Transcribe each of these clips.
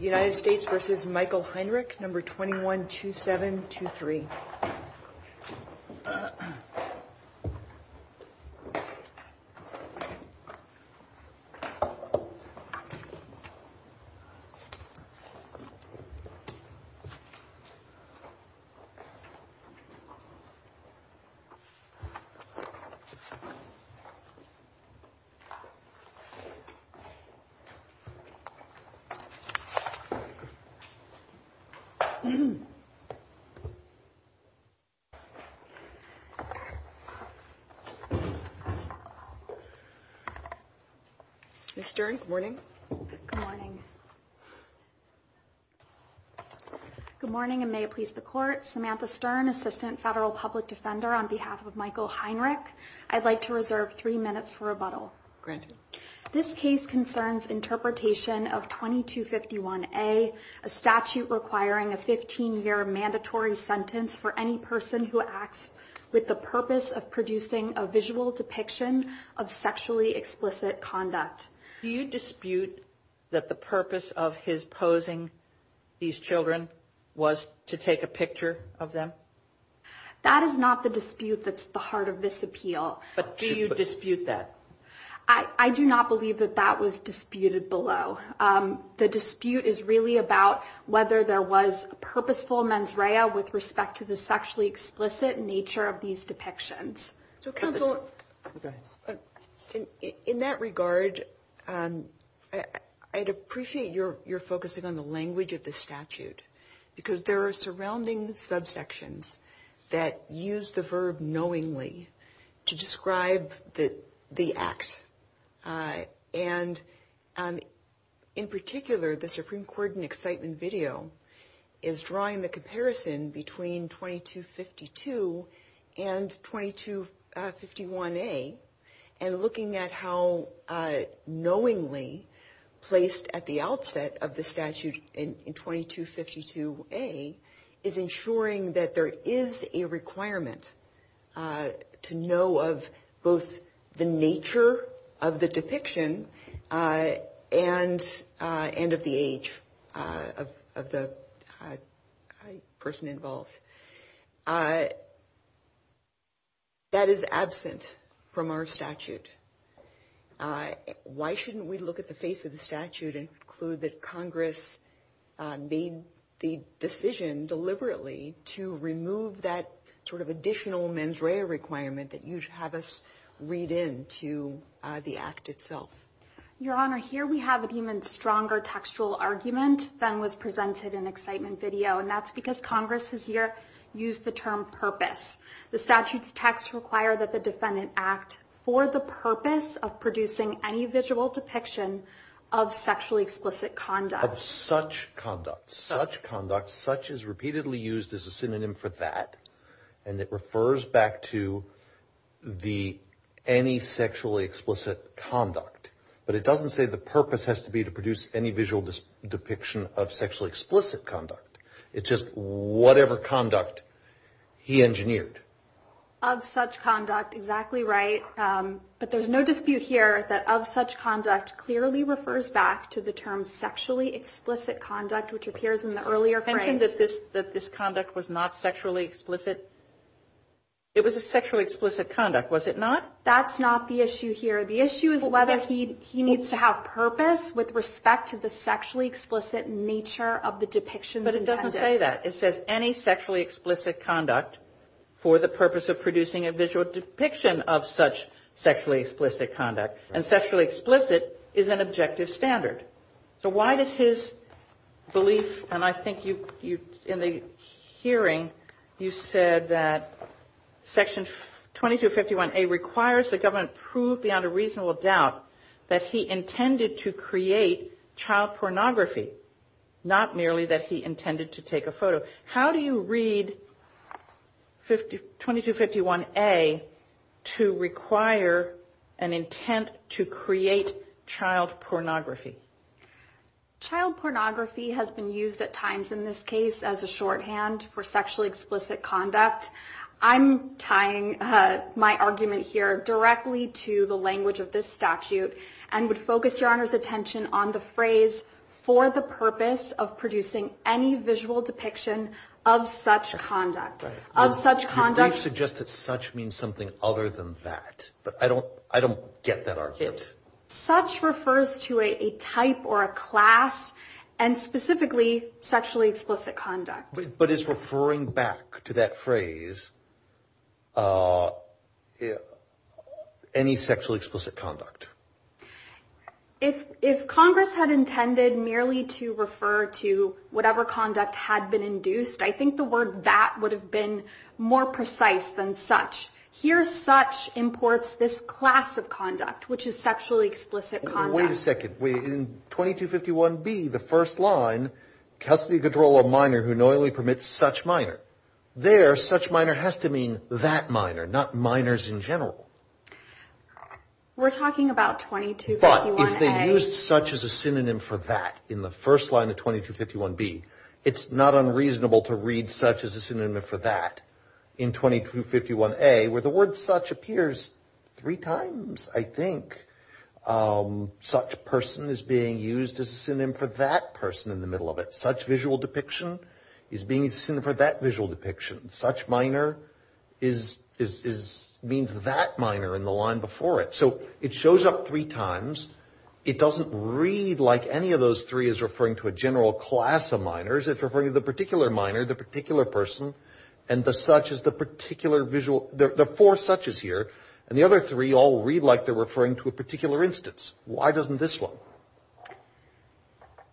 United States v. Michael Heinrich, No. 212723. Ms. Stern, good morning. Good morning. Good morning, and may it please the Court, Samantha Stern, Assistant Federal Public Defender, on behalf of Michael Heinrich. I'd like to ask you to consider the following. Do you dispute that the purpose of his posing these children was to take a picture of them? That is not the dispute that's at the heart of is really about whether there was purposeful mens rea with respect to the sexually explicit nature of these depictions. So counsel, in that regard, I'd appreciate your focusing on the language of the statute, because there are surrounding subsections that use the verb knowingly to describe the act. And in particular, the Supreme Court in excitement video is drawing the comparison between 2252 and 2251A, and looking at how knowingly placed at the outset of the statute in 2252A is ensuring that there is a requirement to know of both the nature of the depiction and of the age of the person involved. That is absent from our statute. Why shouldn't we look at the face of the statute and conclude that Congress made the decision deliberately to remove that sort of additional mens rea requirement that you have us read into the act itself? Your Honor, here we have an even stronger textual argument than was presented in excitement video, and that's because Congress has used the term purpose. The statute's text require that the defendant act for the purpose of producing any visual depiction of sexually explicit conduct. Of such conduct. Such conduct. Such is repeatedly used as a synonym for that, and it refers back to the any sexually explicit conduct. But it doesn't say the purpose has to be to produce any visual depiction of sexually explicit conduct. It's just whatever conduct he engineered. Of such conduct. Exactly right. But there's no dispute here that of such conduct clearly refers back to the term sexually explicit conduct, which appears in the earlier phrase. That this conduct was not sexually explicit. It was a sexually explicit conduct, was it not? That's not the issue here. The issue is whether he needs to have purpose with respect to the sexually explicit nature of the depiction. But it doesn't say that. It says any sexually explicit conduct for the purpose of producing a visual depiction of such sexually explicit conduct. And sexually explicit is an objective standard. So why does his belief, and I think you, in the hearing, you said that Section 2251A requires the government prove beyond a reasonable doubt that he intended to create to require an intent to create child pornography. Child pornography has been used at times in this case as a shorthand for sexually explicit conduct. I'm tying my argument here directly to the language of this statute and would focus your Honor's attention on the phrase for the purpose of producing any visual depiction of such conduct. Of such conduct. You've suggested that such means something other than that, but I don't I don't get that argument. Such refers to a type or a class and specifically sexually explicit conduct. But it's referring back to that phrase. Any sexually explicit conduct. If Congress had intended merely to refer to whatever conduct had been induced, I think the word that would have been more precise than such. Here, such imports this class of conduct, which is sexually explicit conduct. Wait a second. In 2251B, the first line, custody control a minor who knowingly permits such minor. There, such minor has to mean that minor, not minors in general. We're talking about 2251A. But if they used such as a synonym for that in the first line of 2251B, it's not unreasonable to read such as a synonym for that in 2251A, where the word such appears three times, I think. Such person is being used as a synonym for that person in the middle of it. Such visual depiction is being used as a synonym for that visual depiction. Such minor is is is means that minor in the line before it. So it shows up three times. It doesn't read like any of those three is referring to a general class of minors. It's referring to the particular minor, the particular person. And the such is the particular visual. There are four suches here. And the other three all read like they're referring to a particular instance. Why doesn't this one?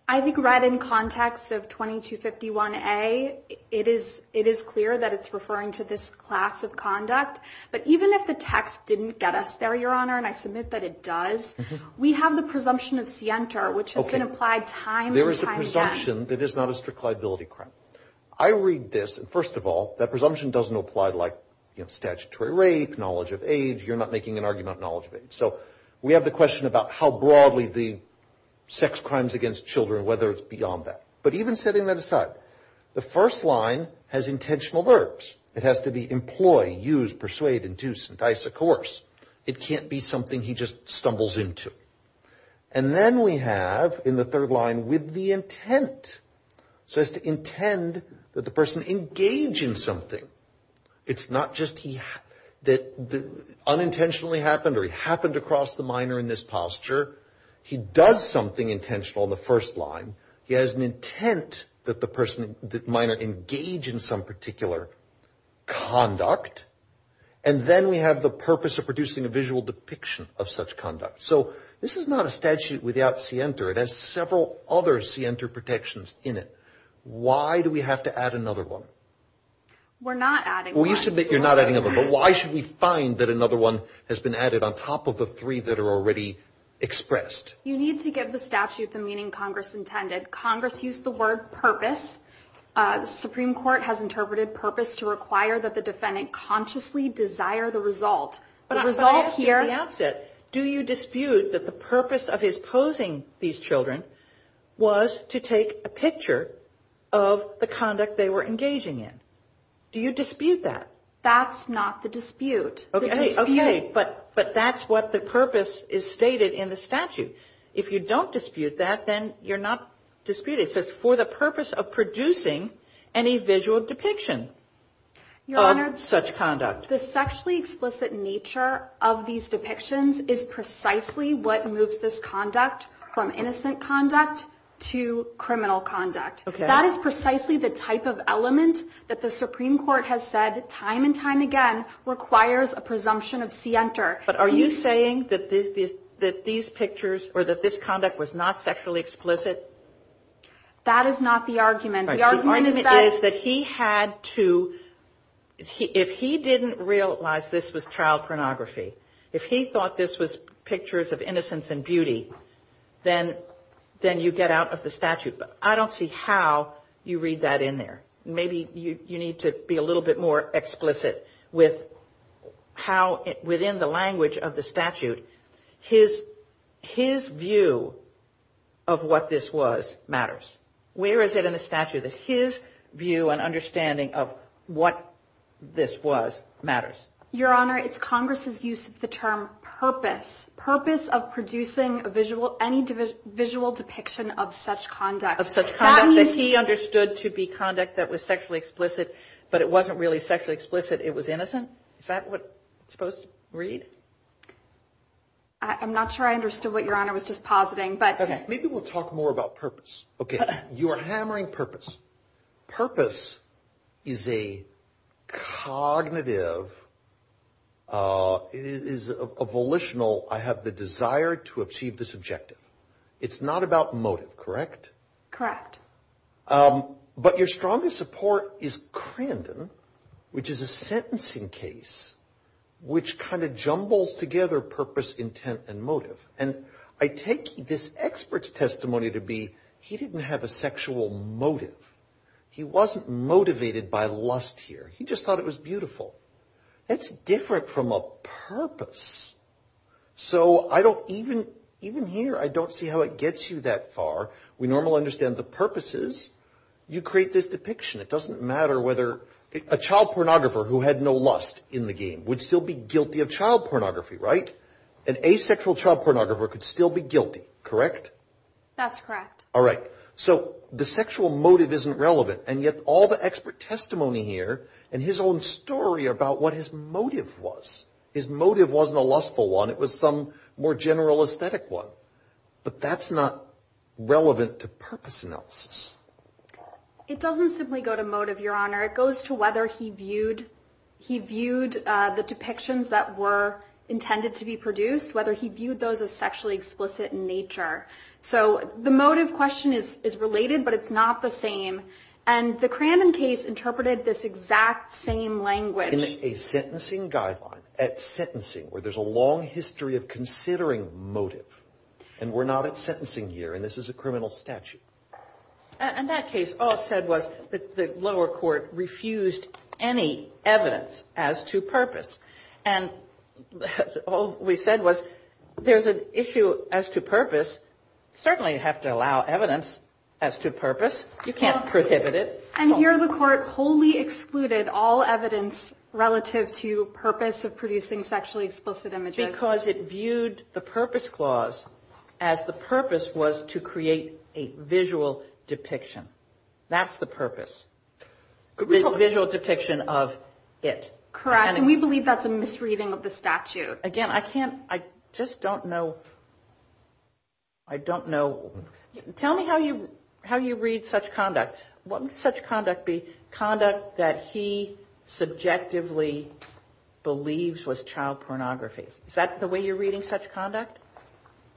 I think right in context of 2251A, it is it is clear that it's referring to this class of conduct. But even if the text didn't get us there, Your Honor, and I submit that it does, we have the presumption of scienter, which has been applied time. There is a presumption that is not a strict liability crime. I read this. And first of all, that presumption doesn't apply like statutory rape, knowledge of age. You're not making an argument knowledge of age. So we have the question about how broadly the sex crimes against children, whether it's beyond that. But even setting that aside, the first line has intentional verbs. It has to be employ, use, persuade, induce, entice, of course. It can't be something he just stumbles into. And then we have in the third line with the intent. So it's to intend that the person engage in something. It's not just he that unintentionally happened or he happened across the minor in this posture. He does something intentional in the first line. He has an intent that the person minor engage in some particular conduct. And then we have the purpose of producing a visual depiction of such conduct. So this is not a statute without scienter. It has several other scienter protections in it. Why do we have to add another one? We're not adding. We submit you're not adding a vote. Why should we find that another one has been added on top of the three that are already expressed? You need to give the statute the meaning Congress intended. Congress used the word purpose. The Supreme Court has interpreted purpose to require that the defendant consciously desire the result. But I result here. Do you dispute that the purpose of his posing these children was to take a picture of the conduct they were engaging in? Do you dispute that? That's not the dispute. OK, but but that's what the purpose is stated in the statute. If you don't dispute that, then you're not disputed. It says for the purpose of producing any visual depiction. Your Honor, such conduct, the sexually explicit nature of these depictions is precisely what moves this conduct from innocent conduct to criminal conduct. That is precisely the type of element that the Supreme Court has said time and time again requires a presumption of scienter. But are you saying that this, that these pictures or that this conduct was not sexually explicit? That is not the argument. The argument is that he had to, if he didn't realize this was child pornography, if he thought this was pictures of innocence and beauty, then you get out of the statute. But I don't see how you read that in there. Maybe you need to be a little bit more explicit with how within the language of the statute, his his view of what this was matters. Where is it in the statute that his view and understanding of what this was matters? Your Honor, it's Congress's use of the term purpose, purpose of producing a visual, any visual depiction of such conduct, of such conduct that he understood to be conduct that was sexually explicit, but it wasn't really sexually explicit. It was innocent. Is that what it's supposed to read? I'm not sure I understood what your honor was just positing, but maybe we'll talk more about purpose. OK, you are hammering purpose. Purpose is a cognitive. It is a volitional. I have the desire to achieve this objective. It's not about motive, correct? Correct. But your strongest support is Crandon, which is a sentencing case which kind of jumbles together purpose, intent and motive. And I take this expert's testimony to be he didn't have a sexual motive. He wasn't motivated by lust here. He just thought it was beautiful. It's different from a purpose. So I don't even even here. I don't see how it gets you that far. We normally understand the purposes. You create this depiction. It doesn't matter whether a child pornographer who had no lust in the game would still be guilty of child pornography, right? An asexual child pornographer could still be guilty, correct? That's correct. All right. So the sexual motive isn't relevant. And yet all the expert testimony here and his own story about what his motive was, his motive wasn't a lustful one. It was some more general aesthetic one. But that's not relevant to purpose analysis. It doesn't simply go to motive, your honor. It goes to whether he viewed he viewed the depictions that were intended to be produced, whether he viewed those as sexually explicit in nature. So the motive question is is related, but it's not the same. And the Crandon case has a long history of considering motive. And we're not at sentencing here. And this is a criminal statute. And that case said was that the lower court refused any evidence as to purpose. And all we said was there's an issue as to purpose. Certainly have to allow evidence as to purpose. You can't prohibit it. And here the court wholly excluded all relative to purpose of producing sexually explicit images because it viewed the purpose clause as the purpose was to create a visual depiction. That's the purpose, a visual depiction of it. Correct. And we believe that's a misreading of the statute. Again, I can't I just don't know. I don't know. Tell me how you how you read such conduct, what such conduct, the believes was child pornography. Is that the way you're reading such conduct?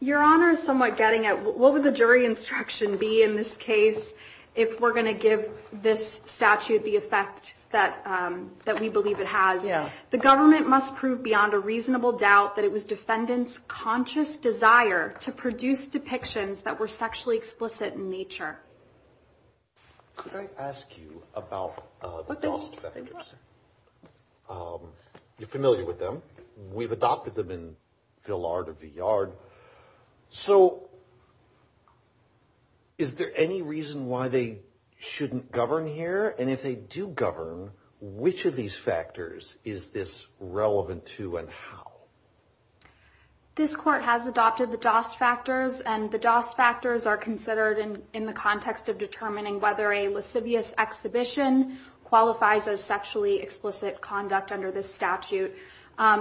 Your Honor is somewhat getting at what would the jury instruction be in this case if we're going to give this statute the effect that that we believe it has? Yeah. The government must prove beyond a reasonable doubt that it was defendants conscious desire to produce depictions that were sexually explicit in nature. Could I ask you about what you're familiar with them? We've adopted them in Villard of the yard. So is there any reason why they shouldn't govern here? And if they do govern, which of these factors is this relevant to and how this court has adopted the DOS factors and the DOS factors are considered in the context of determining whether a lascivious exhibition qualifies as sexually explicit conduct under this statute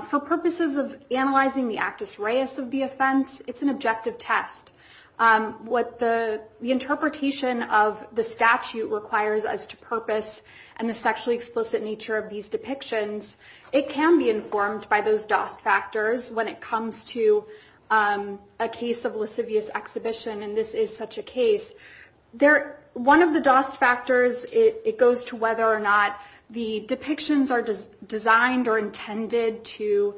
for purposes of analyzing the actus reus of the offense. It's an objective test. What the interpretation of the statute requires as to purpose and the sexually explicit nature of these depictions, it can be informed by those DOS factors when it comes to a case of lascivious exhibition. And this is such a case. One of the DOS factors, it goes to whether or not the depictions are designed or intended to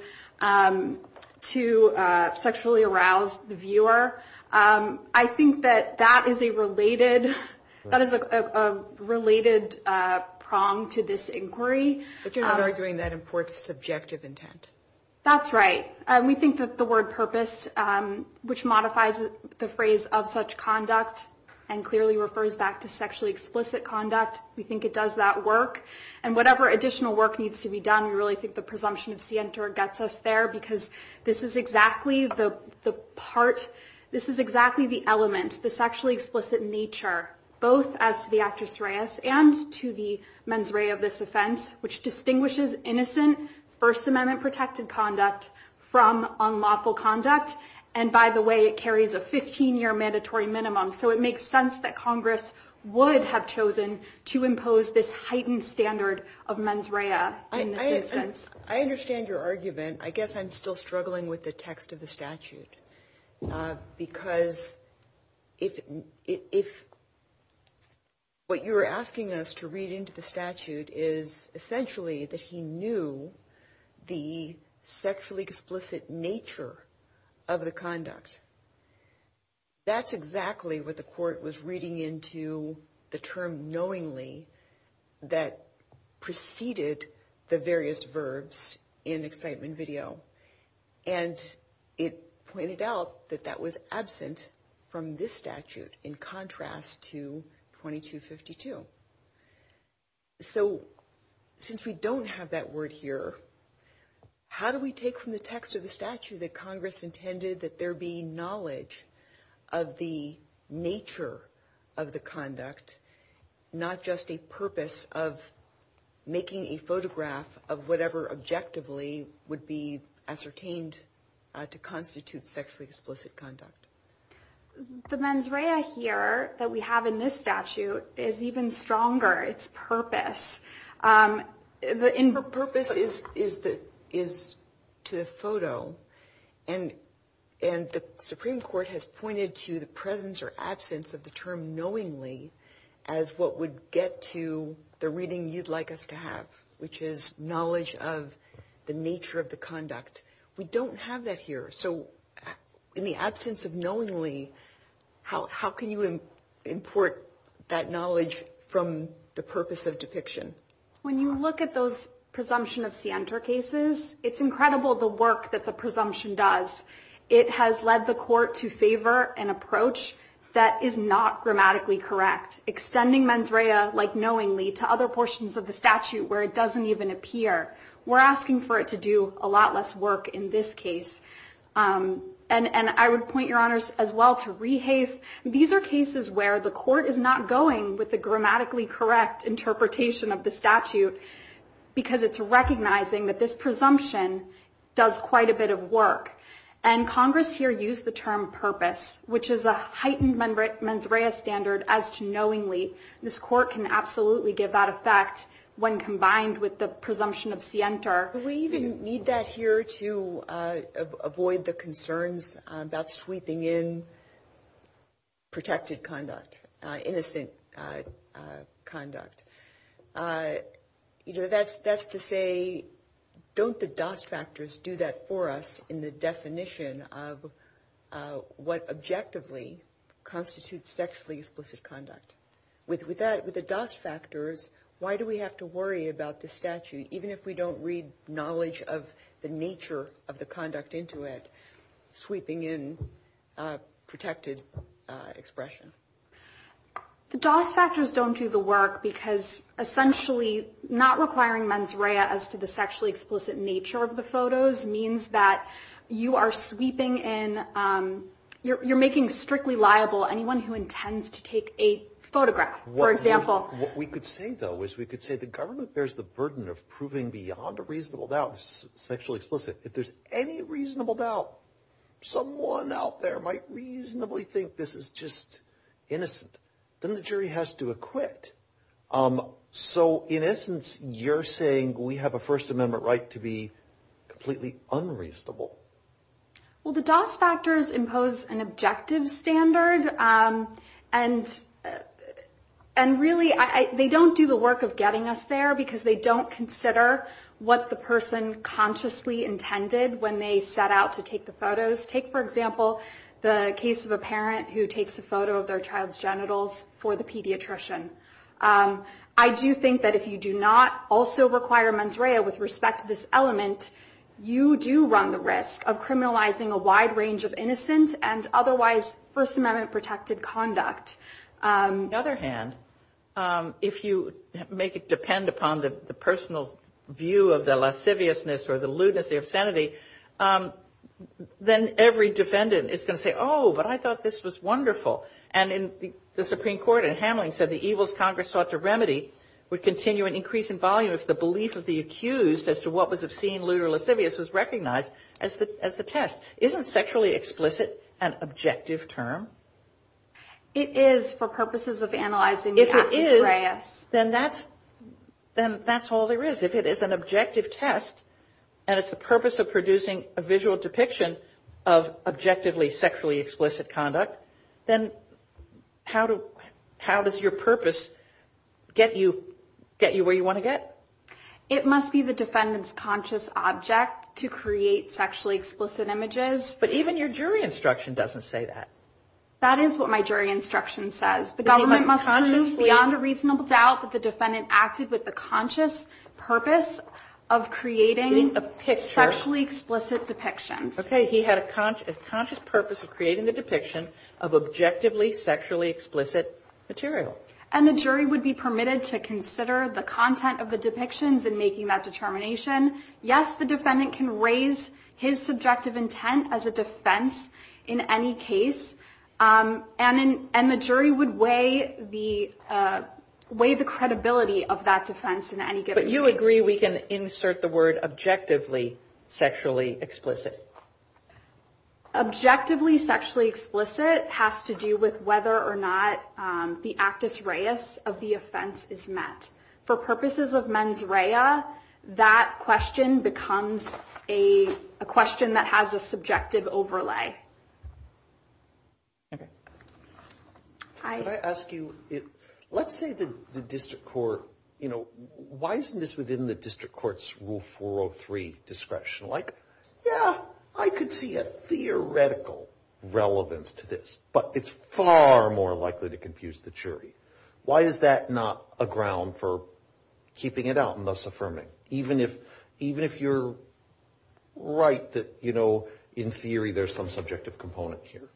sexually arouse the viewer. I think that that is a related prong to this inquiry. But you're not arguing that imports subjective intent. That's right. We think that the word purpose, which modifies the phrase of such conduct and clearly refers back to sexually explicit conduct, we think it does that work. And whatever additional work needs to be done, we really think the This is exactly the element, the sexually explicit nature, both as to the actus reus and to the mens rea of this offense, which distinguishes innocent First Amendment protected conduct from unlawful conduct. And by the way, it carries a 15-year mandatory minimum. So it makes sense that Congress would have chosen to impose this heightened standard of mens rea in this instance. I understand your argument. I guess I'm still struggling with the text of the statute. Because if what you're asking us to read into the statute is essentially that he knew the sexually explicit nature of the conduct. That's exactly what the court was reading into the term knowingly that preceded the various verbs in excitement and video. And it pointed out that that was absent from this statute in contrast to 2252. So, since we don't have that word here, how do we take from the text of the statute that Congress intended that there be knowledge of the nature of the conduct, not just a purpose of making a photograph of whatever objectively would be ascertained to constitute sexually explicit conduct? The mens rea here that we have in this statute is even stronger. It's purpose. Purpose is to the photo. And the Supreme Court has pointed to the presence or absence of the term knowingly as what would get to the reading you'd like us to have, which is knowledge of the nature of the conduct. We don't have that here. So, in the absence of knowingly, how can you import that knowledge from the purpose of depiction? When you look at those presumption of scienter cases, it's incredible the work that the presumption does. It has led the court to favor an approach that is not grammatically correct, extending mens rea like knowingly to other portions of the statute where it doesn't even appear. We're asking for it to do a lot less work in this case. And I would point your honors as well to rehafe. These are cases where the court is not going with the grammatically correct interpretation of the statute because it's recognizing that this presumption does quite a bit of work. And Congress here used the term purpose, which is a heightened member at mens rea standard as to knowingly. This court can absolutely give that effect when combined with the presumption of scienter. We even need that here to avoid the concerns about sweeping in protected conduct, innocent conduct. You know, that's that's to say, don't the dust factors do that to us? For us in the definition of what objectively constitutes sexually explicit conduct with with that with the dust factors, why do we have to worry about the statute, even if we don't read knowledge of the nature of the conduct into it, sweeping in protected expression? The dust factors don't do the work because essentially not requiring mens rea as to the means that you are sweeping in, you're making strictly liable anyone who intends to take a photograph, for example. We could say, though, is we could say the government bears the burden of proving beyond a reasonable doubt sexually explicit. If there's any reasonable doubt, someone out there might reasonably think this is just innocent. Then the jury has to acquit. So in essence, you're giving a First Amendment right to be completely unreasonable. Well, the dust factors impose an objective standard and and really they don't do the work of getting us there because they don't consider what the person consciously intended when they set out to take the photos. Take, for example, the case of a parent who takes a photo of their child's genitals for the pediatrician. I do think that if you do not also require mens rea with respect to this element, you do run the risk of criminalizing a wide range of innocent and otherwise First Amendment protected conduct. On the other hand, if you make it depend upon the personal view of the lasciviousness or the lewdness, the obscenity, then every defendant is going to say, oh, but I thought this was wonderful. And in the Supreme Court and Hamlin said the evils Congress sought to the belief of the accused as to what was obscene, lewd or lascivious was recognized as the test. Isn't sexually explicit an objective term? It is for purposes of analyzing. If it is, then that's then that's all there is. If it is an objective test and it's the purpose of producing a visual depiction of objectively sexually explicit conduct, then how to how does your purpose get you get you where you want to get? It must be the defendant's conscious object to create sexually explicit images. But even your jury instruction doesn't say that. That is what my jury instruction says. The government must move beyond a reasonable doubt that the defendant acted with the conscious purpose of creating a sexually explicit depictions. OK, he had a conscious purpose of creating the depiction of objectively sexually explicit material. And the jury would be permitted to consider the content of the depictions and making that determination. Yes, the defendant can raise his subjective intent as a defense in any case. And then and the jury would weigh the way the credibility of that defense in any good. But you agree we can insert the word objectively sexually explicit. Objectively sexually explicit has to do with whether or not the actus reus of the offense is met for purposes of mens rea. That question becomes a question that has a subjective overlay. I ask you, let's say the district court, you know, why isn't this within the district court's rule 403 discretion? Like, yeah, I could see a theoretical relevance to this, but it's far more likely to confuse the jury. Why is that not a ground for keeping it out and thus affirming, even if even if you're right that, you know, in theory, there's some subjective component here?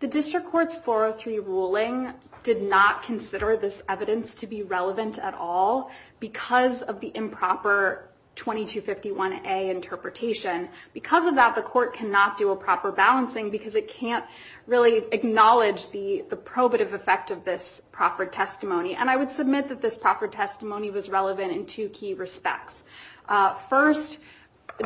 The district court's 403 ruling did not consider this evidence to be relevant at all because of the improper 2251A interpretation. Because of that, the court cannot do a proper balancing because it can't really acknowledge the probative effect of this proffered testimony. And I would submit that this proffered testimony was relevant in two key respects. First,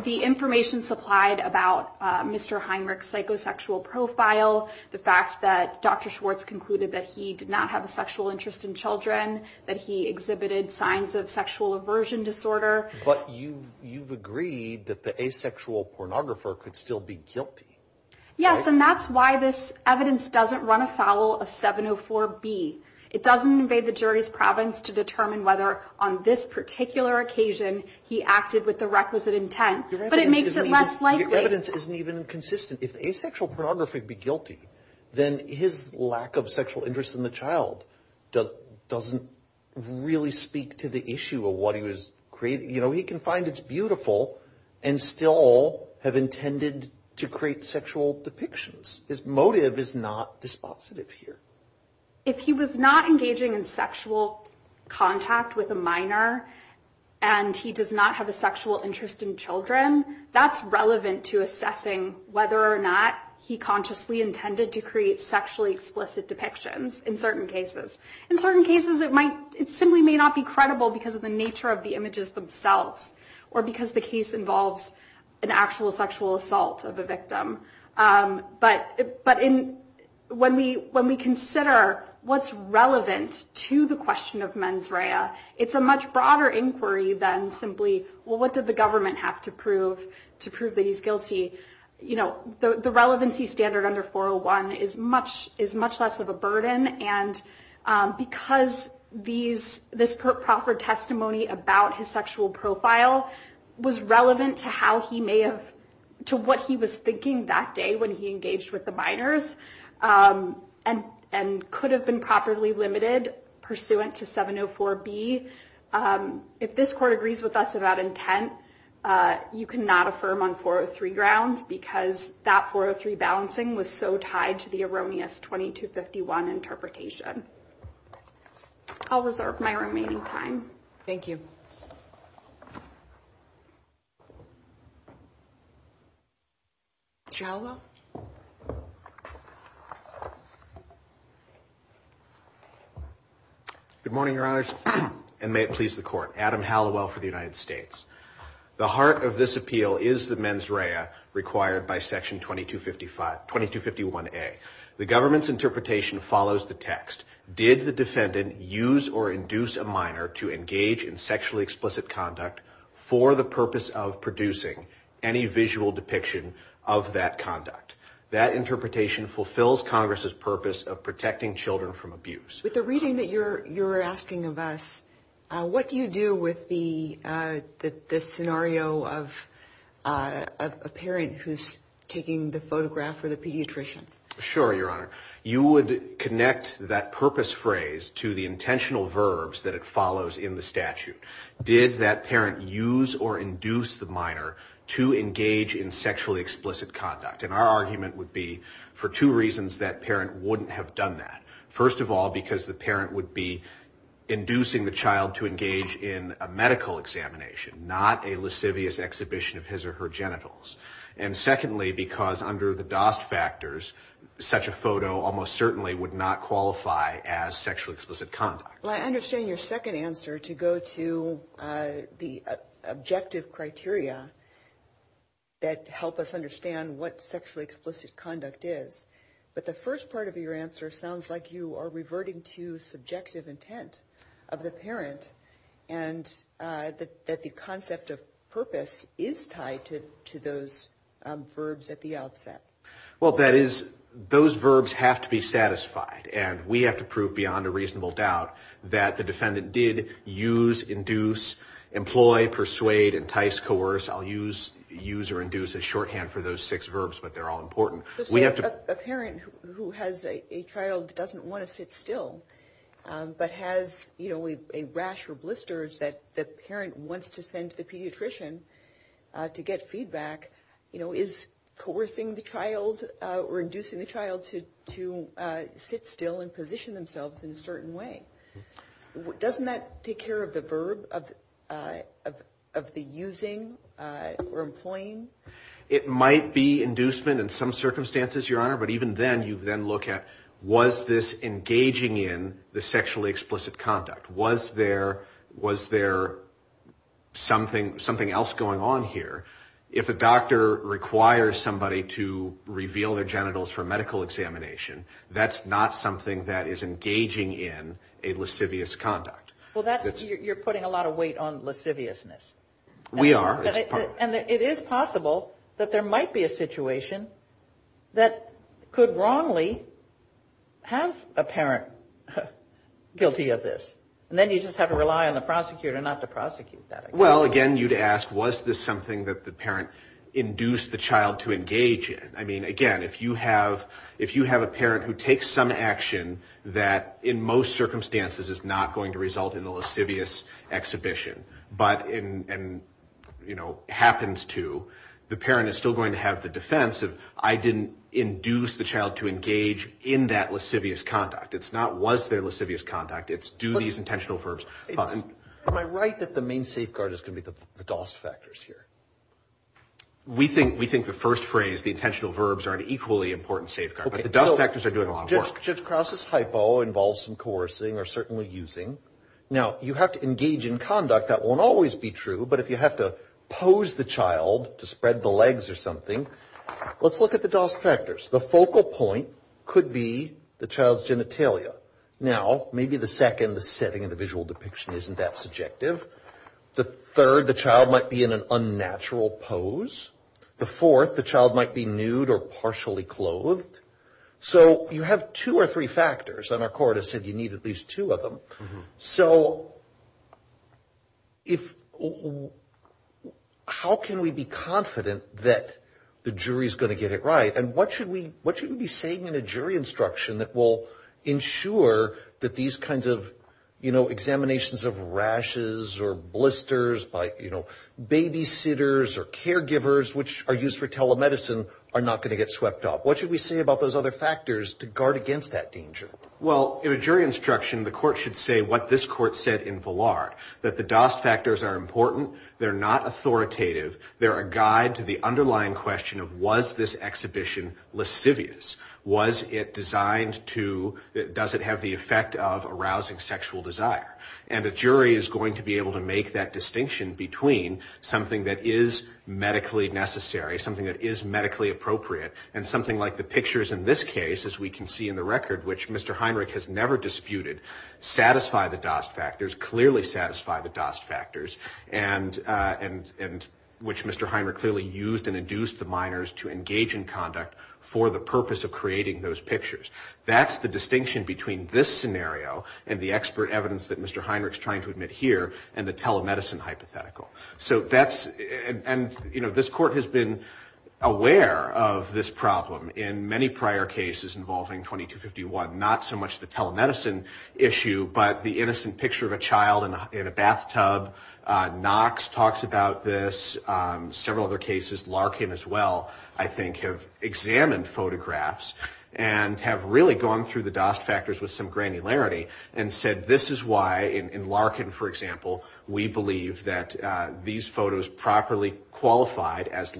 the information supplied about Mr. Heinrich's psychosexual profile, the fact that Dr. Schwartz concluded that he did not have a sexual interest in children, that he exhibited signs of sexual aversion disorder. But you you've agreed that the asexual pornographer could still be guilty. Yes. And that's why this evidence doesn't run afoul of 704B. It doesn't invade the jury's province to determine whether on this particular occasion he acted with the requisite intent. But it makes it less likely. Evidence isn't even consistent. If asexual pornography be guilty, then his lack of sexual interest in the child doesn't really speak to the issue of what he was creating. You know, he can find it's beautiful and still have intended to create sexual depictions. His motive is not dispositive here. If he was not engaging in sexual contact with a minor and he does not have a sexual interest in children, that's relevant to assessing whether or not he consciously intended to create sexually explicit depictions in certain cases. In certain cases, it might it simply may not be credible because of the nature of the images themselves or because the case involves an actual sexual assault of a victim. But but in when we when we consider what's relevant to the question of mens rea, it's a much broader inquiry than simply, well, what did the government have to prove to prove that he's guilty? You know, the relevancy standard under 401 is much is much less of a because these this Profford testimony about his sexual profile was relevant to how he may have to what he was thinking that day when he engaged with the minors and and could have been properly limited pursuant to 704 B. If this court agrees with us about intent, you cannot affirm on 403 grounds because that 403 balancing was so tied to the erroneous 2251 interpretation. I'll reserve my remaining time. Thank you. Joe. Good morning, Your Honors, and may it please the court, Adam Hallowell for the United States. The heart of this appeal is the mens rea required by Section 2255 2251 A. The government's interpretation follows the text. Did the defendant use or induce a minor to engage in sexually explicit conduct for the purpose of producing any visual depiction of that conduct? That interpretation fulfills Congress's purpose of protecting children from abuse. With the reading that you're you're asking of us, what do you do with the the scenario of a parent who's taking the photograph for the pediatrician? Sure, Your Honor, you would connect that purpose phrase to the intentional verbs that it follows in the statute. Did that parent use or induce the minor to engage in sexually explicit conduct? And our argument would be for two reasons that parent wouldn't have done that. First of all, because the parent would be inducing the child to engage in a medical examination, not a lascivious exhibition of his or her genitals. And secondly, because under the DOST factors, such a photo almost certainly would not qualify as sexually explicit conduct. Well, I understand your second answer to go to the objective criteria that help us understand what sexually explicit conduct is. But the first part of your answer sounds like you are reverting to subjective intent of the parent and that the concept of purpose is tied to those verbs at the outset. Well, that is those verbs have to be satisfied and we have to prove beyond a reasonable doubt that the defendant did use, induce, employ, persuade, entice, coerce. I'll use use or induce as shorthand for those six verbs, but they're all important. A parent who has a child doesn't want to sit still, but has, you know, a rash or blisters that the parent wants to send to the pediatrician to get feedback, you know, is coercing the child or inducing the child to sit still and position themselves in a certain way. Doesn't that take care of the verb of the using or employing? It might be inducement in some circumstances, Your Honor, but even then you then look at was this engaging in the sexually explicit conduct? Was there was there something something else going on here? If a doctor requires somebody to reveal their genitals for medical examination, that's not something that is engaging in a lascivious conduct. Well, that's you're putting a lot of weight on lasciviousness. We are. And it is possible that there might be a situation that could wrongly have a parent guilty of this. And then you just have to rely on the prosecutor not to prosecute that. Well, again, you'd ask, was this something that the parent induced the child to engage in? I mean, again, if you have if you have a parent who takes some action that in most happens to the parent is still going to have the defense of I didn't induce the child to engage in that lascivious conduct. It's not was there lascivious conduct? It's do these intentional verbs. Am I right that the main safeguard is going to be the DOS factors here? We think we think the first phrase, the intentional verbs are an equally important safeguard, but the DOS factors are doing a lot of work. Judge Krause's hypo involves some coercing or certainly using. Now, you have to engage in conduct that won't always be true. But if you have to pose the child to spread the legs or something, let's look at the DOS factors. The focal point could be the child's genitalia. Now, maybe the second, the setting of the visual depiction isn't that subjective. The third, the child might be in an unnatural pose. The fourth, the child might be nude or partially clothed. So you have two or three factors. And our court has said you need at least two of them. So if how can we be confident that the jury is going to get it right and what should we what should we be saying in a jury instruction that will ensure that these kinds of, you know, examinations of rashes or blisters by, you know, babysitters or caregivers which are used for telemedicine are not going to get swept up? What should we say about those other factors to guard against that danger? Well, in a jury instruction, the court should say what this court said in Vallard, that the DOS factors are important. They're not authoritative. They're a guide to the underlying question of was this exhibition lascivious? Was it designed to, does it have the effect of arousing sexual desire? And a jury is going to be able to make that distinction between something that is medically necessary, something that is medically appropriate and something like the pictures in this record, which Mr. Heinrich has never disputed, satisfy the DOS factors, clearly satisfy the DOS factors and which Mr. Heinrich clearly used and induced the minors to engage in conduct for the purpose of creating those pictures. That's the distinction between this scenario and the expert evidence that Mr. Heinrich is trying to admit here and the telemedicine hypothetical. So that's, and you know, this court has been aware of this problem in many prior cases involving 2251, not so much the telemedicine issue, but the innocent picture of a child in a bathtub. Knox talks about this, several other cases, Larkin as well, I think, have examined photographs and have really gone through the DOS factors with some granularity and said, this is why in Larkin, for example, we believe that these photos properly qualified as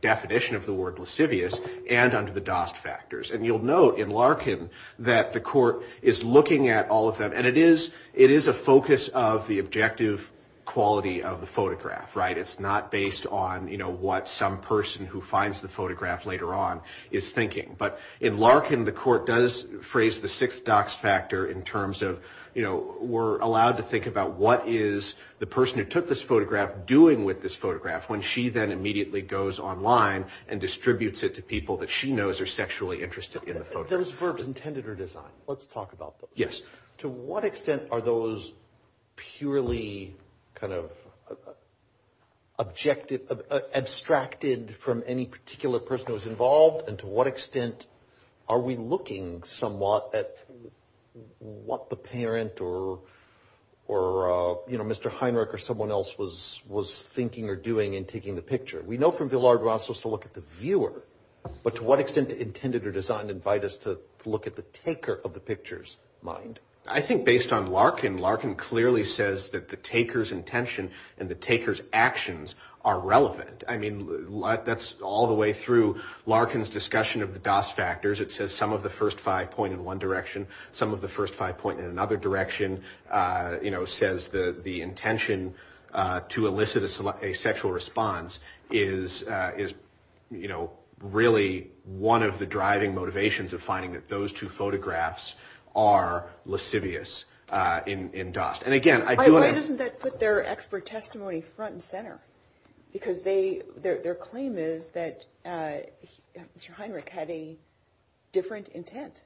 definition of the word lascivious and under the DOS factors. And you'll note in Larkin that the court is looking at all of them. And it is, it is a focus of the objective quality of the photograph, right? It's not based on, you know, what some person who finds the photograph later on is thinking. But in Larkin, the court does phrase the sixth DOX factor in terms of, you know, we're allowed to think about what is the person who took this photograph doing with this photograph when she then immediately goes online and distributes it to people that she knows are sexually interested in the photograph. Those verbs intended or designed. Let's talk about those. Yes. To what extent are those purely kind of objective, abstracted from any particular person who's involved? And to what extent are we looking somewhat at what the parent or, you know, Mr. Heinrich or Mr. Heinrich is doing in taking the picture? We know from Villard-Russell's to look at the viewer, but to what extent intended or designed invite us to look at the taker of the picture's mind? I think based on Larkin, Larkin clearly says that the taker's intention and the taker's actions are relevant. I mean, that's all the way through Larkin's discussion of the DOS factors. It says some of the first five point in one direction, some of the first five point in another direction, you know, says that the intention to elicit a sexual response is, you know, really one of the driving motivations of finding that those two photographs are lascivious in DOS. And again, I do want to. Why doesn't that put their expert testimony front and center? Because their claim is that Mr. Heinrich had a different intent.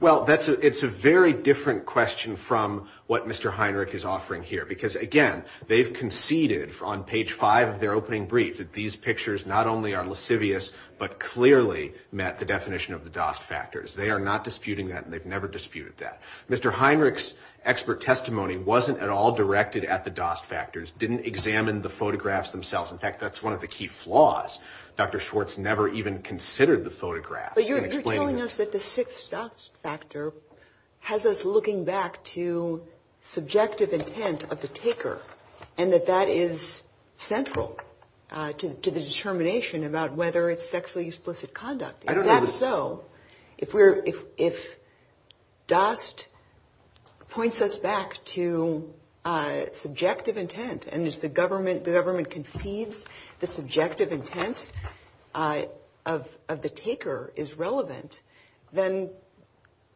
Well, that's it's a very different question from what Mr. Heinrich is offering here, because, again, they've conceded on page five of their opening brief that these pictures not only are lascivious, but clearly met the definition of the DOS factors. They are not disputing that. And they've never disputed that. Mr. Heinrich's expert testimony wasn't at all directed at the DOS factors, didn't examine the photographs themselves. In fact, that's one of the key flaws. Dr. Schwartz never even considered the photographs. But you're telling us that the sixth DOS factor has us looking back to subjective intent of the taker and that that is central to the determination about whether it's sexually explicit conduct. I don't know. So if we're if if DOS points us back to subjective intent and is the government, the government conceives the subjective intent of of the taker is relevant, then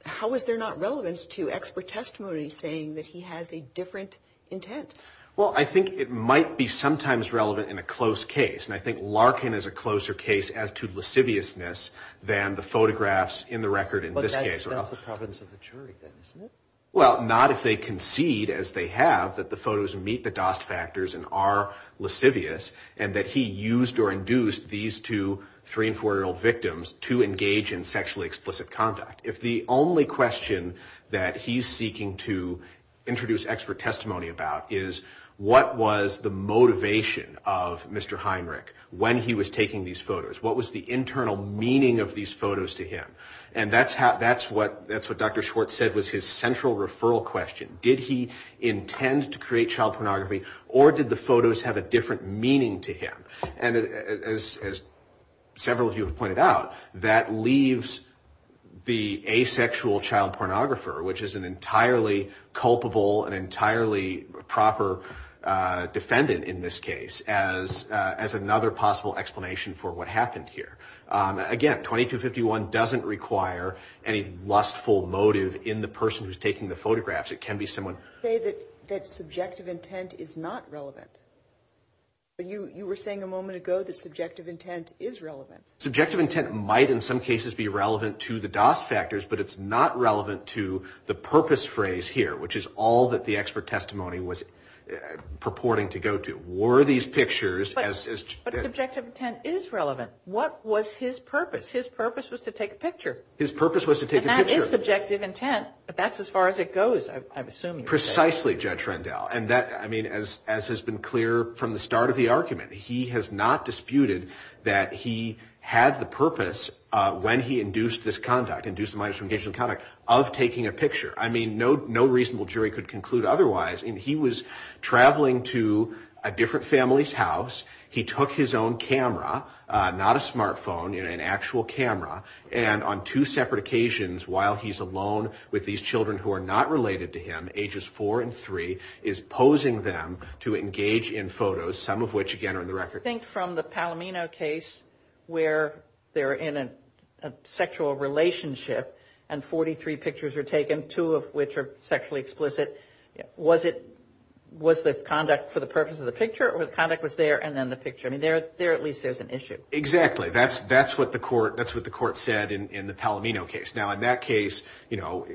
how is there not relevance to expert testimony saying that he has a different intent? Well, I think it might be sometimes relevant in a close case. And I think Larkin is a closer case as to lasciviousness than the photographs in the record. In this case, that's the province of the jury then, isn't it? Well, not if they concede, as they have, that the photos meet the DOS factors and are lascivious and that he used or induced these two three and four year old victims to engage in sexually explicit conduct. If the only question that he's seeking to introduce expert testimony about is what was the motivation of Mr. Heinrich when he was taking these photos, what was the internal meaning of these photos to him? And that's how that's what that's what Dr. Schwartz said was his central referral question. Did he intend to create child pornography or did the photos have a different meaning to him? And as several of you have pointed out, that leaves the asexual child pornographer, which is an entirely culpable and entirely proper defendant in this case, as as another possible explanation for what happened here. Again, 2251 doesn't require any lustful motive in the person who's taking the photographs. It can be someone say that that subjective intent is not relevant. But you were saying a moment ago that subjective intent is relevant. Subjective intent might in some cases be relevant to the DOS factors, but it's not relevant to the purpose phrase here, which is all that the expert testimony was purporting to go to. Were these pictures as subjective intent is relevant. What was his purpose? His purpose was to take a picture. His purpose was to take a subjective intent, but that's as far as it goes. I've assumed precisely Judge Rendell. And that I mean, as as has been clear from the start of the argument, he has not disputed that he had the purpose when he induced this conduct, induced the minus from engaging in conduct of taking a picture. I mean, no, no reasonable jury could conclude otherwise. And he was traveling to a different family's house. He took his own camera, not a smartphone, an actual camera. And on two separate occasions, while he's alone with these children who are not related to him, ages four and three, is posing them to engage in photos, some of which, again, are in the record. I think from the Palomino case where they're in a sexual relationship and 43 pictures are taken, two of which are sexually explicit. Was it was the conduct for the purpose of the picture or the conduct was there and then the picture? I mean, there there at least there's an issue. Exactly. That's that's what the court that's what the court said in the Palomino case. Now, in that case, you know,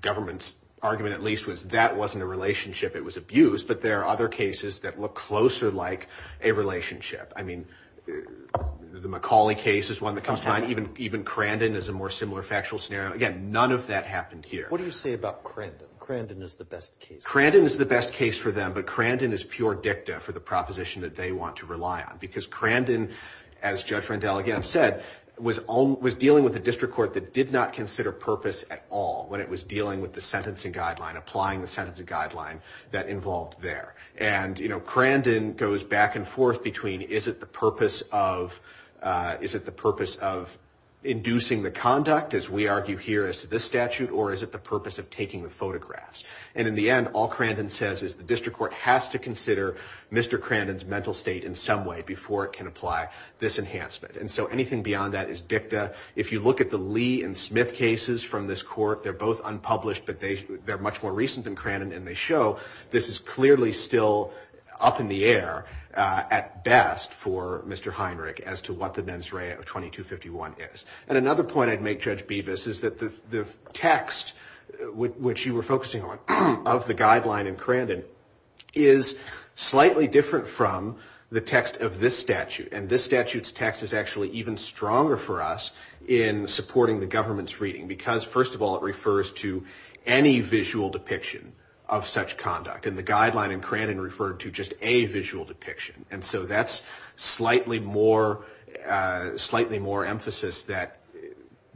government's argument at least was that wasn't a relationship. It was abuse. But there are other cases that look closer like a relationship. I mean, the McCauley case is one that comes to mind. Even even Crandon is a more similar factual scenario. Again, none of that happened here. What do you say about Crandon? Crandon is the best case. Crandon is the best case for them. But Crandon is pure dicta for the proposition that they want to rely on, because Crandon, as Judge Rendell again said, was was dealing with a district court that did not consider purpose at all when it was dealing with the sentencing guideline, applying the sentencing guideline that involved there. And, you know, Crandon goes back and forth between is it the purpose of is it the purpose of inducing the conduct, as we argue here as to this statute, or is it the purpose of taking the photographs? And in the end, all Crandon says is the district court has to consider Mr. Crandon's mental state in some way before it can apply this enhancement. And so anything beyond that is dicta. If you look at the Lee and Smith cases from this court, they're both unpublished, but they they're much more recent than Crandon. And they show this is clearly still up in the air at best for Mr. Heinrich as to what the mens rea of 2251 is. And another point I'd make, Judge Bevis, is that the text which you were focusing on of the guideline in Crandon is slightly different from the text of this statute. And this statute's text is actually even stronger for us in supporting the government's reading, because, first of all, it refers to any visual depiction of such conduct. And the guideline in Crandon referred to just a visual depiction. And so that's slightly more slightly more emphasis that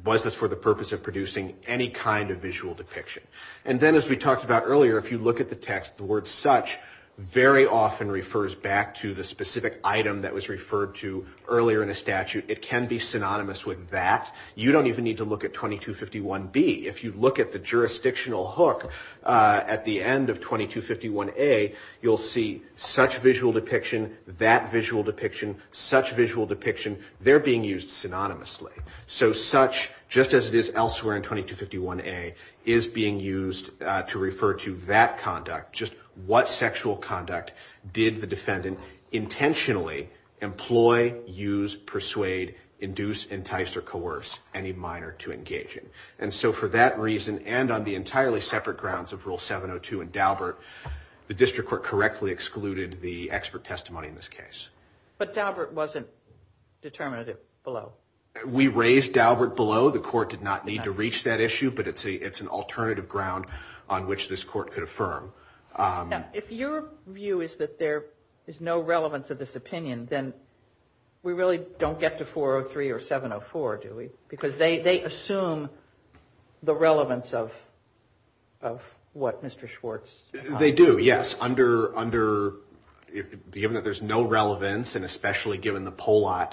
was this for the purpose of producing any kind of visual depiction. And then, as we talked about earlier, if you look at the text, the word such very often refers back to the specific item that was referred to earlier in a statute. It can be synonymous with that. You don't even need to look at 2251 B. If you look at the jurisdictional hook at the end of 2251 A, you'll see such visual depiction, that visual depiction, such visual depiction. They're being used synonymously. So such, just as it is elsewhere in 2251 A, is being used to refer to that conduct, just what sexual conduct did the defendant intentionally employ, use, persuade, induce, entice, or coerce any minor to engage in. And so for that reason, and on the entirely separate grounds of Rule 702 and Daubert, the district court correctly excluded the expert testimony in this case. But Daubert wasn't determinative below. We raised Daubert below. The court did not need to reach that issue, but it's an alternative ground on which this court could affirm. If your view is that there is no relevance of this opinion, then we really don't get to 403 or 704, do we? Because they assume the relevance of what Mr. Schwartz. They do, yes. Under, under, given that there's no relevance, and especially given the Pollat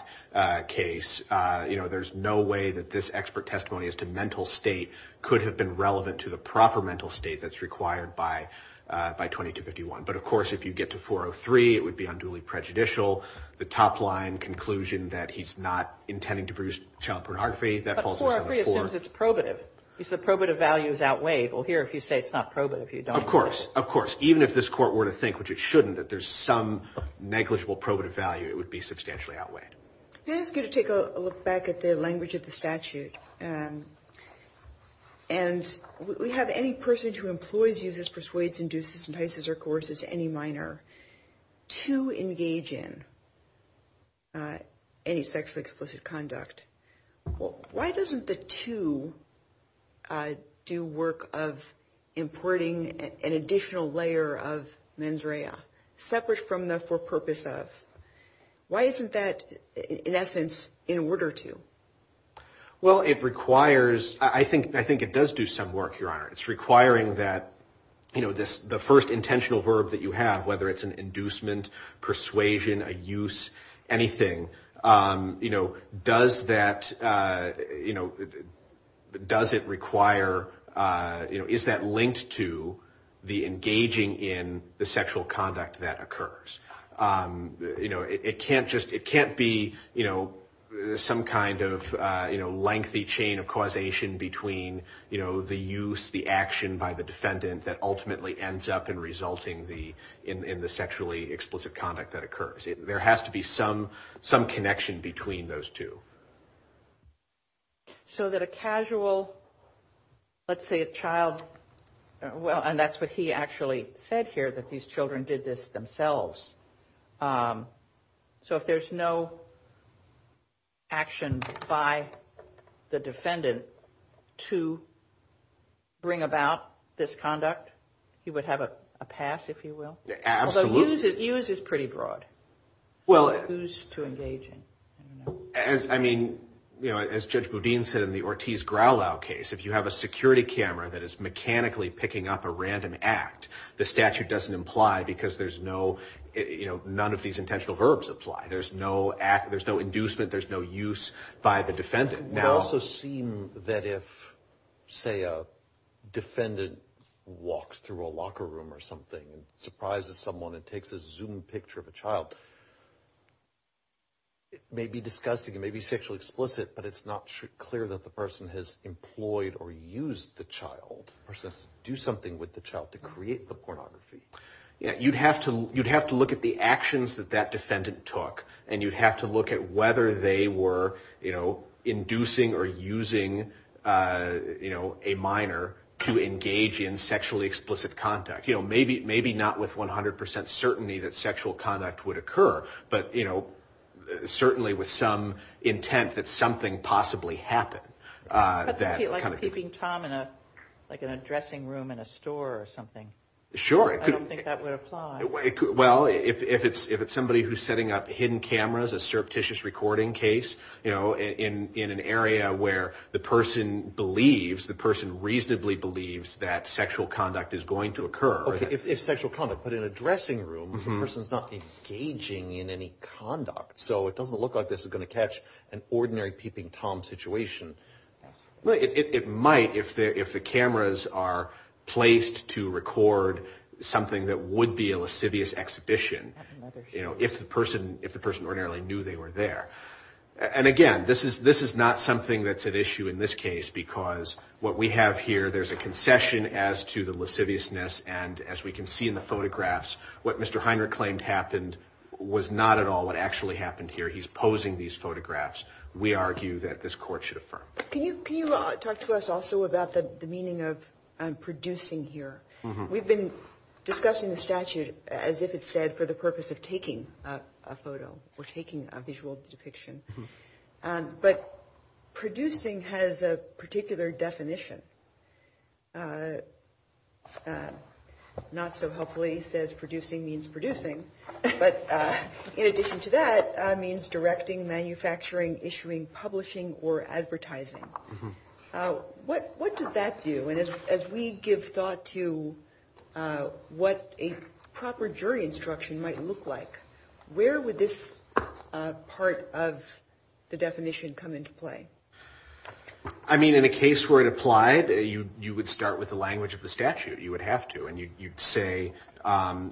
case, you know, there's no way that this expert testimony as to mental state could have been relevant to the proper mental state that's required by, by 2251. But of course, if you get to 403, it would be unduly prejudicial. The top line conclusion that he's not intending to produce child pornography, that falls under 704. But 403 assumes it's probative. He said probative values outweighed. Well, here, if you say it's not probative, you don't. Of course. Of course. Even if this court were to think, which it shouldn't, that there's some negligible probative value, it would be substantially outweighed. It is good to take a look back at the language of the statute. And we have any person who employs, uses, persuades, induces, entices, or coerces any minor to engage in any sexually explicit conduct. Well, why doesn't the two do work of importing an additional layer of mens rea, separate from the for purpose of? Why isn't that, in essence, in order to? Well, it requires, I think, I think it does do some work, Your Honor. It's requiring that, you know, this, the first intentional verb that you have, whether it's an inducement, persuasion, a use, anything. You know, does that, you know, does it require, you know, is that linked to the engaging in the sexual conduct that occurs? You know, it can't just, it can't be, you know, some kind of, you know, lengthy chain of causation between, you know, the use, the action by the defendant that ultimately ends up in resulting the, in the sexually explicit conduct that occurs. There has to be some, some connection between those two. So that a casual, let's say a child, well, and that's what he actually said here, that these children did this themselves. So if there's no action by the defendant to bring about this conduct, he would have a pass, if you will? Absolutely. Use is pretty broad. Well, I mean, you know, as Judge Boudin said in the Ortiz-Growlow case, if you have a security camera that is mechanically picking up a random act, the statute doesn't imply because there's no, you know, none of these intentional verbs apply. There's no act, there's no inducement. There's no use by the defendant. It also seemed that if, say, a defendant walks through a locker room or something and surprises someone and takes a Zoom picture of a child, it may be disgusting, it may be sexually explicit, but it's not clear that the person has employed or used the child, the person has to do something with the child to create the pornography. You'd have to look at the actions that that defendant took, and you'd have to look at whether they were, you know, inducing or using, you know, a minor to engage in sexually explicit conduct. You know, maybe not with 100% certainty that sexual conduct would occur, but, you know, certainly with some intent that something possibly happened. Like peeping Tom in a, like in a dressing room in a store or something. Sure. I don't think that would apply. Well, if it's somebody who's setting up hidden cameras, a surreptitious recording case, you know, in an area where the person believes, the person reasonably believes that sexual conduct is going to occur. Okay, if sexual conduct, but in a dressing room, the person's not engaging in any conduct. So it doesn't look like this is going to catch an ordinary peeping Tom situation. Well, it might if the cameras are placed to record something that would be a lascivious exhibition, you know, if the person ordinarily knew they were there. And again, this is not something that's at issue in this case, because what we have here, there's a concession as to the lasciviousness. And as we can see in the photographs, what Mr. Heinrich claimed happened was not at all what actually happened here. He's posing these photographs. We argue that this court should affirm. Can you talk to us also about the meaning of producing here? We've been discussing the statute as if it's said for the purpose of taking a photo or taking a visual depiction. But producing has a particular definition. Not so helpfully says producing means producing, but in addition to that means directing, manufacturing, issuing, publishing or advertising. What what does that do? And as we give thought to what a proper jury instruction might look like, where would this part of the definition come into play? I mean, in a case where it applied, you would start with the language of the statute. You would have to. And you'd say,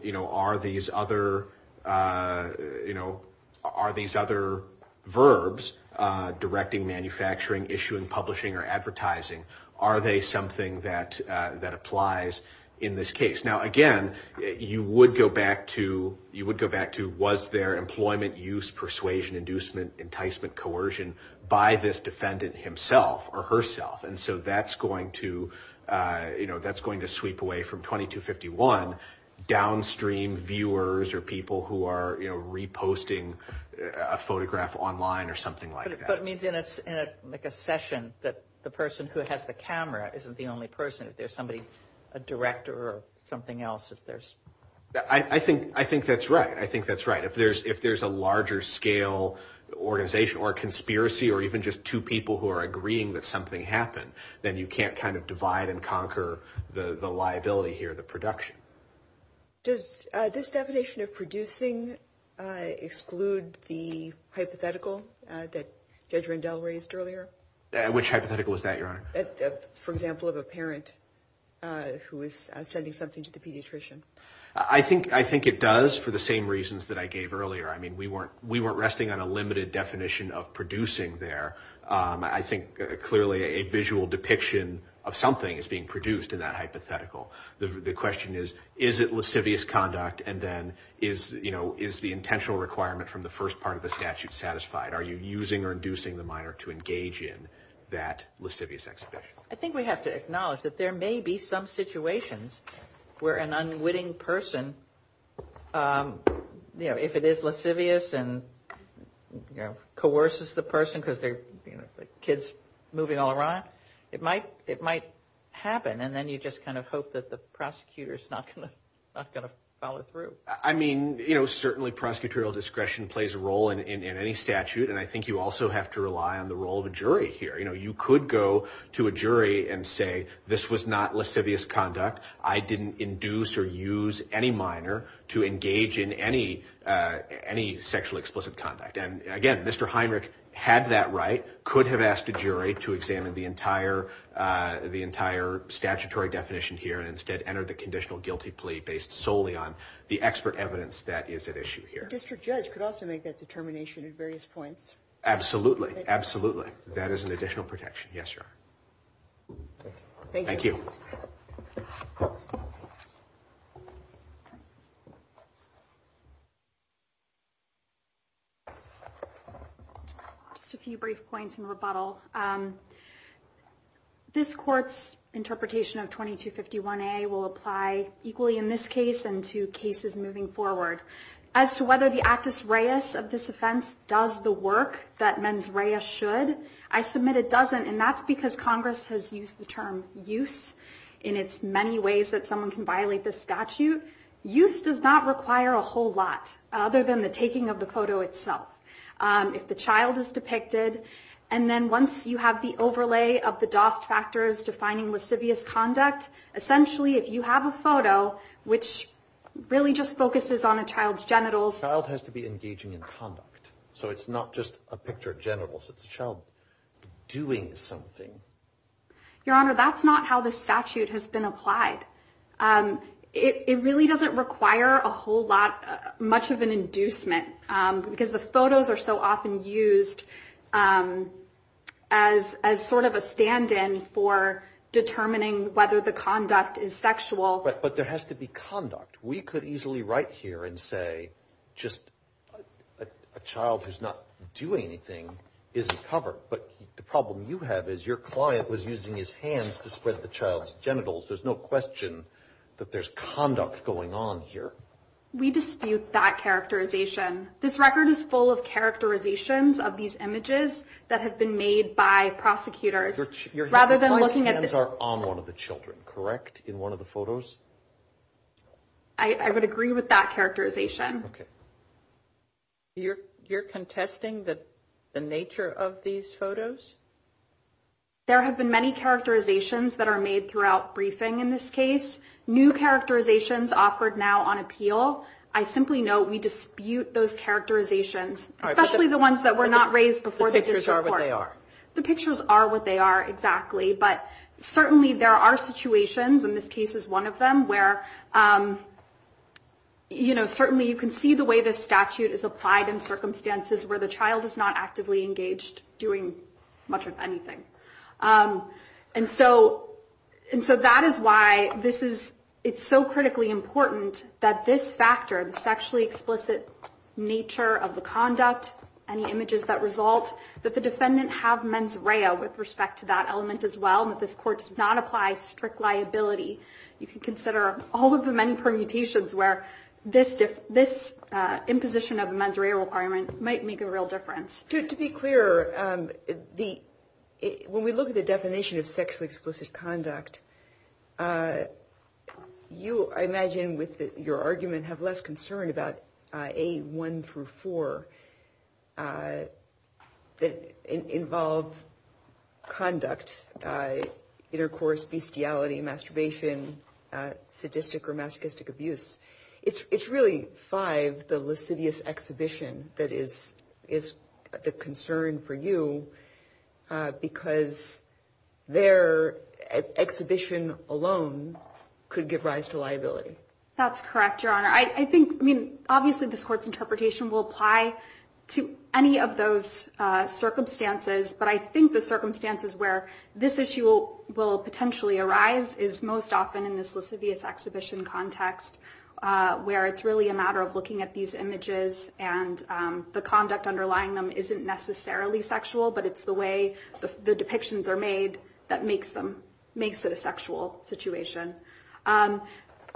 you know, are these other, you know, are these other verbs directing, manufacturing, issuing, publishing or advertising? Are they something that that applies in this case? Now, again, you would go back to you would go back to was there employment, use, persuasion, inducement, enticement, coercion by this definition? And then you would go back to the defendant himself or herself. And so that's going to, you know, that's going to sweep away from 2251 downstream viewers or people who are reposting a photograph online or something like that. But it means in a like a session that the person who has the camera isn't the only person. If there's somebody, a director or something else, if there's I think I think that's right. If there's if there's a larger scale organization or conspiracy or even just two people who are agreeing that something happened, then you can't kind of divide and conquer the liability here, the production. Does this definition of producing exclude the hypothetical that Judge Rendell raised earlier? Which hypothetical was that, Your Honor? For example, of a parent who is sending something to the pediatrician? I think I think it does for the same reasons that I gave earlier. I mean, we weren't we weren't resting on a limited definition of producing there. I think clearly a visual depiction of something is being produced in that hypothetical. The question is, is it lascivious conduct? And then is, you know, is the intentional requirement from the first part of the statute satisfied? Are you using or inducing the minor to engage in that lascivious exhibition? I think we have to acknowledge that there may be some situations where an unwitting person, you know, if it is lascivious and, you know, coerces the person because they're, you know, kids moving all around, it might it might happen. And then you just kind of hope that the prosecutor is not going to not going to follow through. I mean, you know, certainly prosecutorial discretion plays a role in any statute. And I think you also have to rely on the role of a jury here. You could go to a jury and say this was not lascivious conduct. I didn't induce or use any minor to engage in any sexual explicit conduct. And again, Mr. Heinrich had that right, could have asked a jury to examine the entire statutory definition here and instead enter the conditional guilty plea based solely on the expert evidence that is at issue here. The district judge could also make that determination at various points. Absolutely. Absolutely. That is an additional protection. Yes, sir. Thank you. Just a few brief points in rebuttal. This court's interpretation of 2251A will apply equally in this case and two cases moving forward as to whether the actus reus of this offense does the work that mens rea should I submit it doesn't. And that's because Congress has used the term use in its many ways that someone can violate the statute. Use does not require a whole lot other than the taking of the photo itself. If the child is depicted and then once you have the overlay of the DOST factors defining lascivious conduct, essentially, if you have a photo which really just focuses on a child's genitals. Child has to be engaging in conduct. So it's not just a picture of genitals. It's a child doing something. Your Honor, that's not how the statute has been applied. It really doesn't require a whole lot much of an inducement because the photos are so often used as as sort of a stand in for determining whether the conduct is sexual. But there has to be conduct. We could easily write here and say just a child who's not doing anything isn't covered. But the problem you have is your client was using his hands to spread the child's genitals. There's no question that there's conduct going on here. We dispute that characterization. This record is full of characterizations of these images that have been made by prosecutors rather than looking at the hands are on one of the children. Correct. In one of the photos. I would agree with that characterization. You're contesting that the nature of these photos. There have been many characterizations that are made throughout briefing in this case. New characterizations offered now on appeal. I simply know we dispute those characterizations, especially the ones that were not raised before. The pictures are what they are exactly. But certainly there are situations in this case is one of them where. You know, certainly you can see the way this statute is applied in circumstances where the child is not actively engaged doing much of anything. And so and so that is why this is it's so critically important that this factor, the sexually explicit nature of the conduct, any images that result that the defendant have with respect to that element as well, that this court does not apply strict liability. You can consider all of the many permutations where this imposition of a mens rea requirement might make a real difference. To be clear, the when we look at the definition of sexually explicit conduct. You imagine with your argument have less concern about a one through four. I did involve. Conduct, intercourse, bestiality, masturbation, sadistic or masochistic abuse. It's really five. The lascivious exhibition that is is the concern for you because. Their exhibition alone could give rise to liability. That's correct, your honor. I think I mean, obviously, this court's interpretation will apply to any of those circumstances, but I think the circumstances where this issue will potentially arise is most often in this lascivious exhibition context where it's really a matter of looking at these images and the conduct underlying them isn't necessarily sexual, but it's the way the depictions are made that makes them makes it a sexual situation. I'm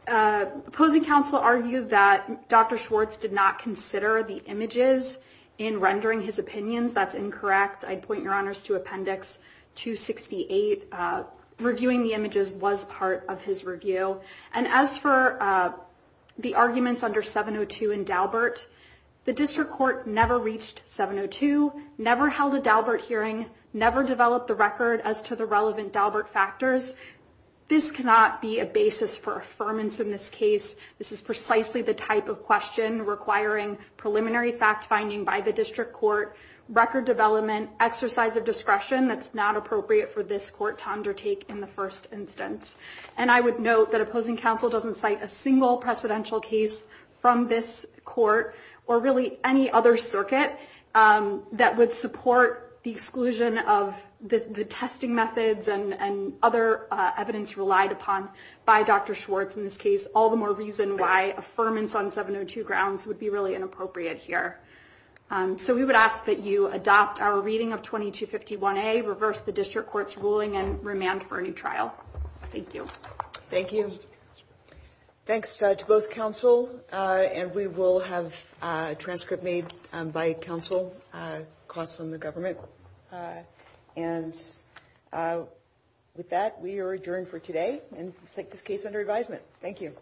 opposing counsel argued that Dr. Schwartz did not consider the images in rendering his opinions. That's incorrect. I'd point your honors to Appendix 268. Reviewing the images was part of his review. And as for the arguments under 702 and Daubert, the district court never reached 702, never held a Daubert hearing, never developed the record as to the relevant Daubert factors. This cannot be a basis for affirmance in this case. This is precisely the type of question requiring preliminary fact finding by the district court, record development, exercise of discretion. That's not appropriate for this court to undertake in the first instance. And I would note that opposing counsel doesn't cite a single precedential case from this court or really any other circuit that would support the exclusion of the testing methods and other evidence relied upon by Dr. Schwartz in this case. All the more reason why affirmance on 702 grounds would be really inappropriate here. So we would ask that you adopt our reading of 2251A, reverse the district court's ruling and remand for a new trial. Thank you. Thank you. Thanks to both counsel. And we will have a transcript made by counsel, costs from the government. And with that, we are adjourned for today and take this case under advisement. Thank you.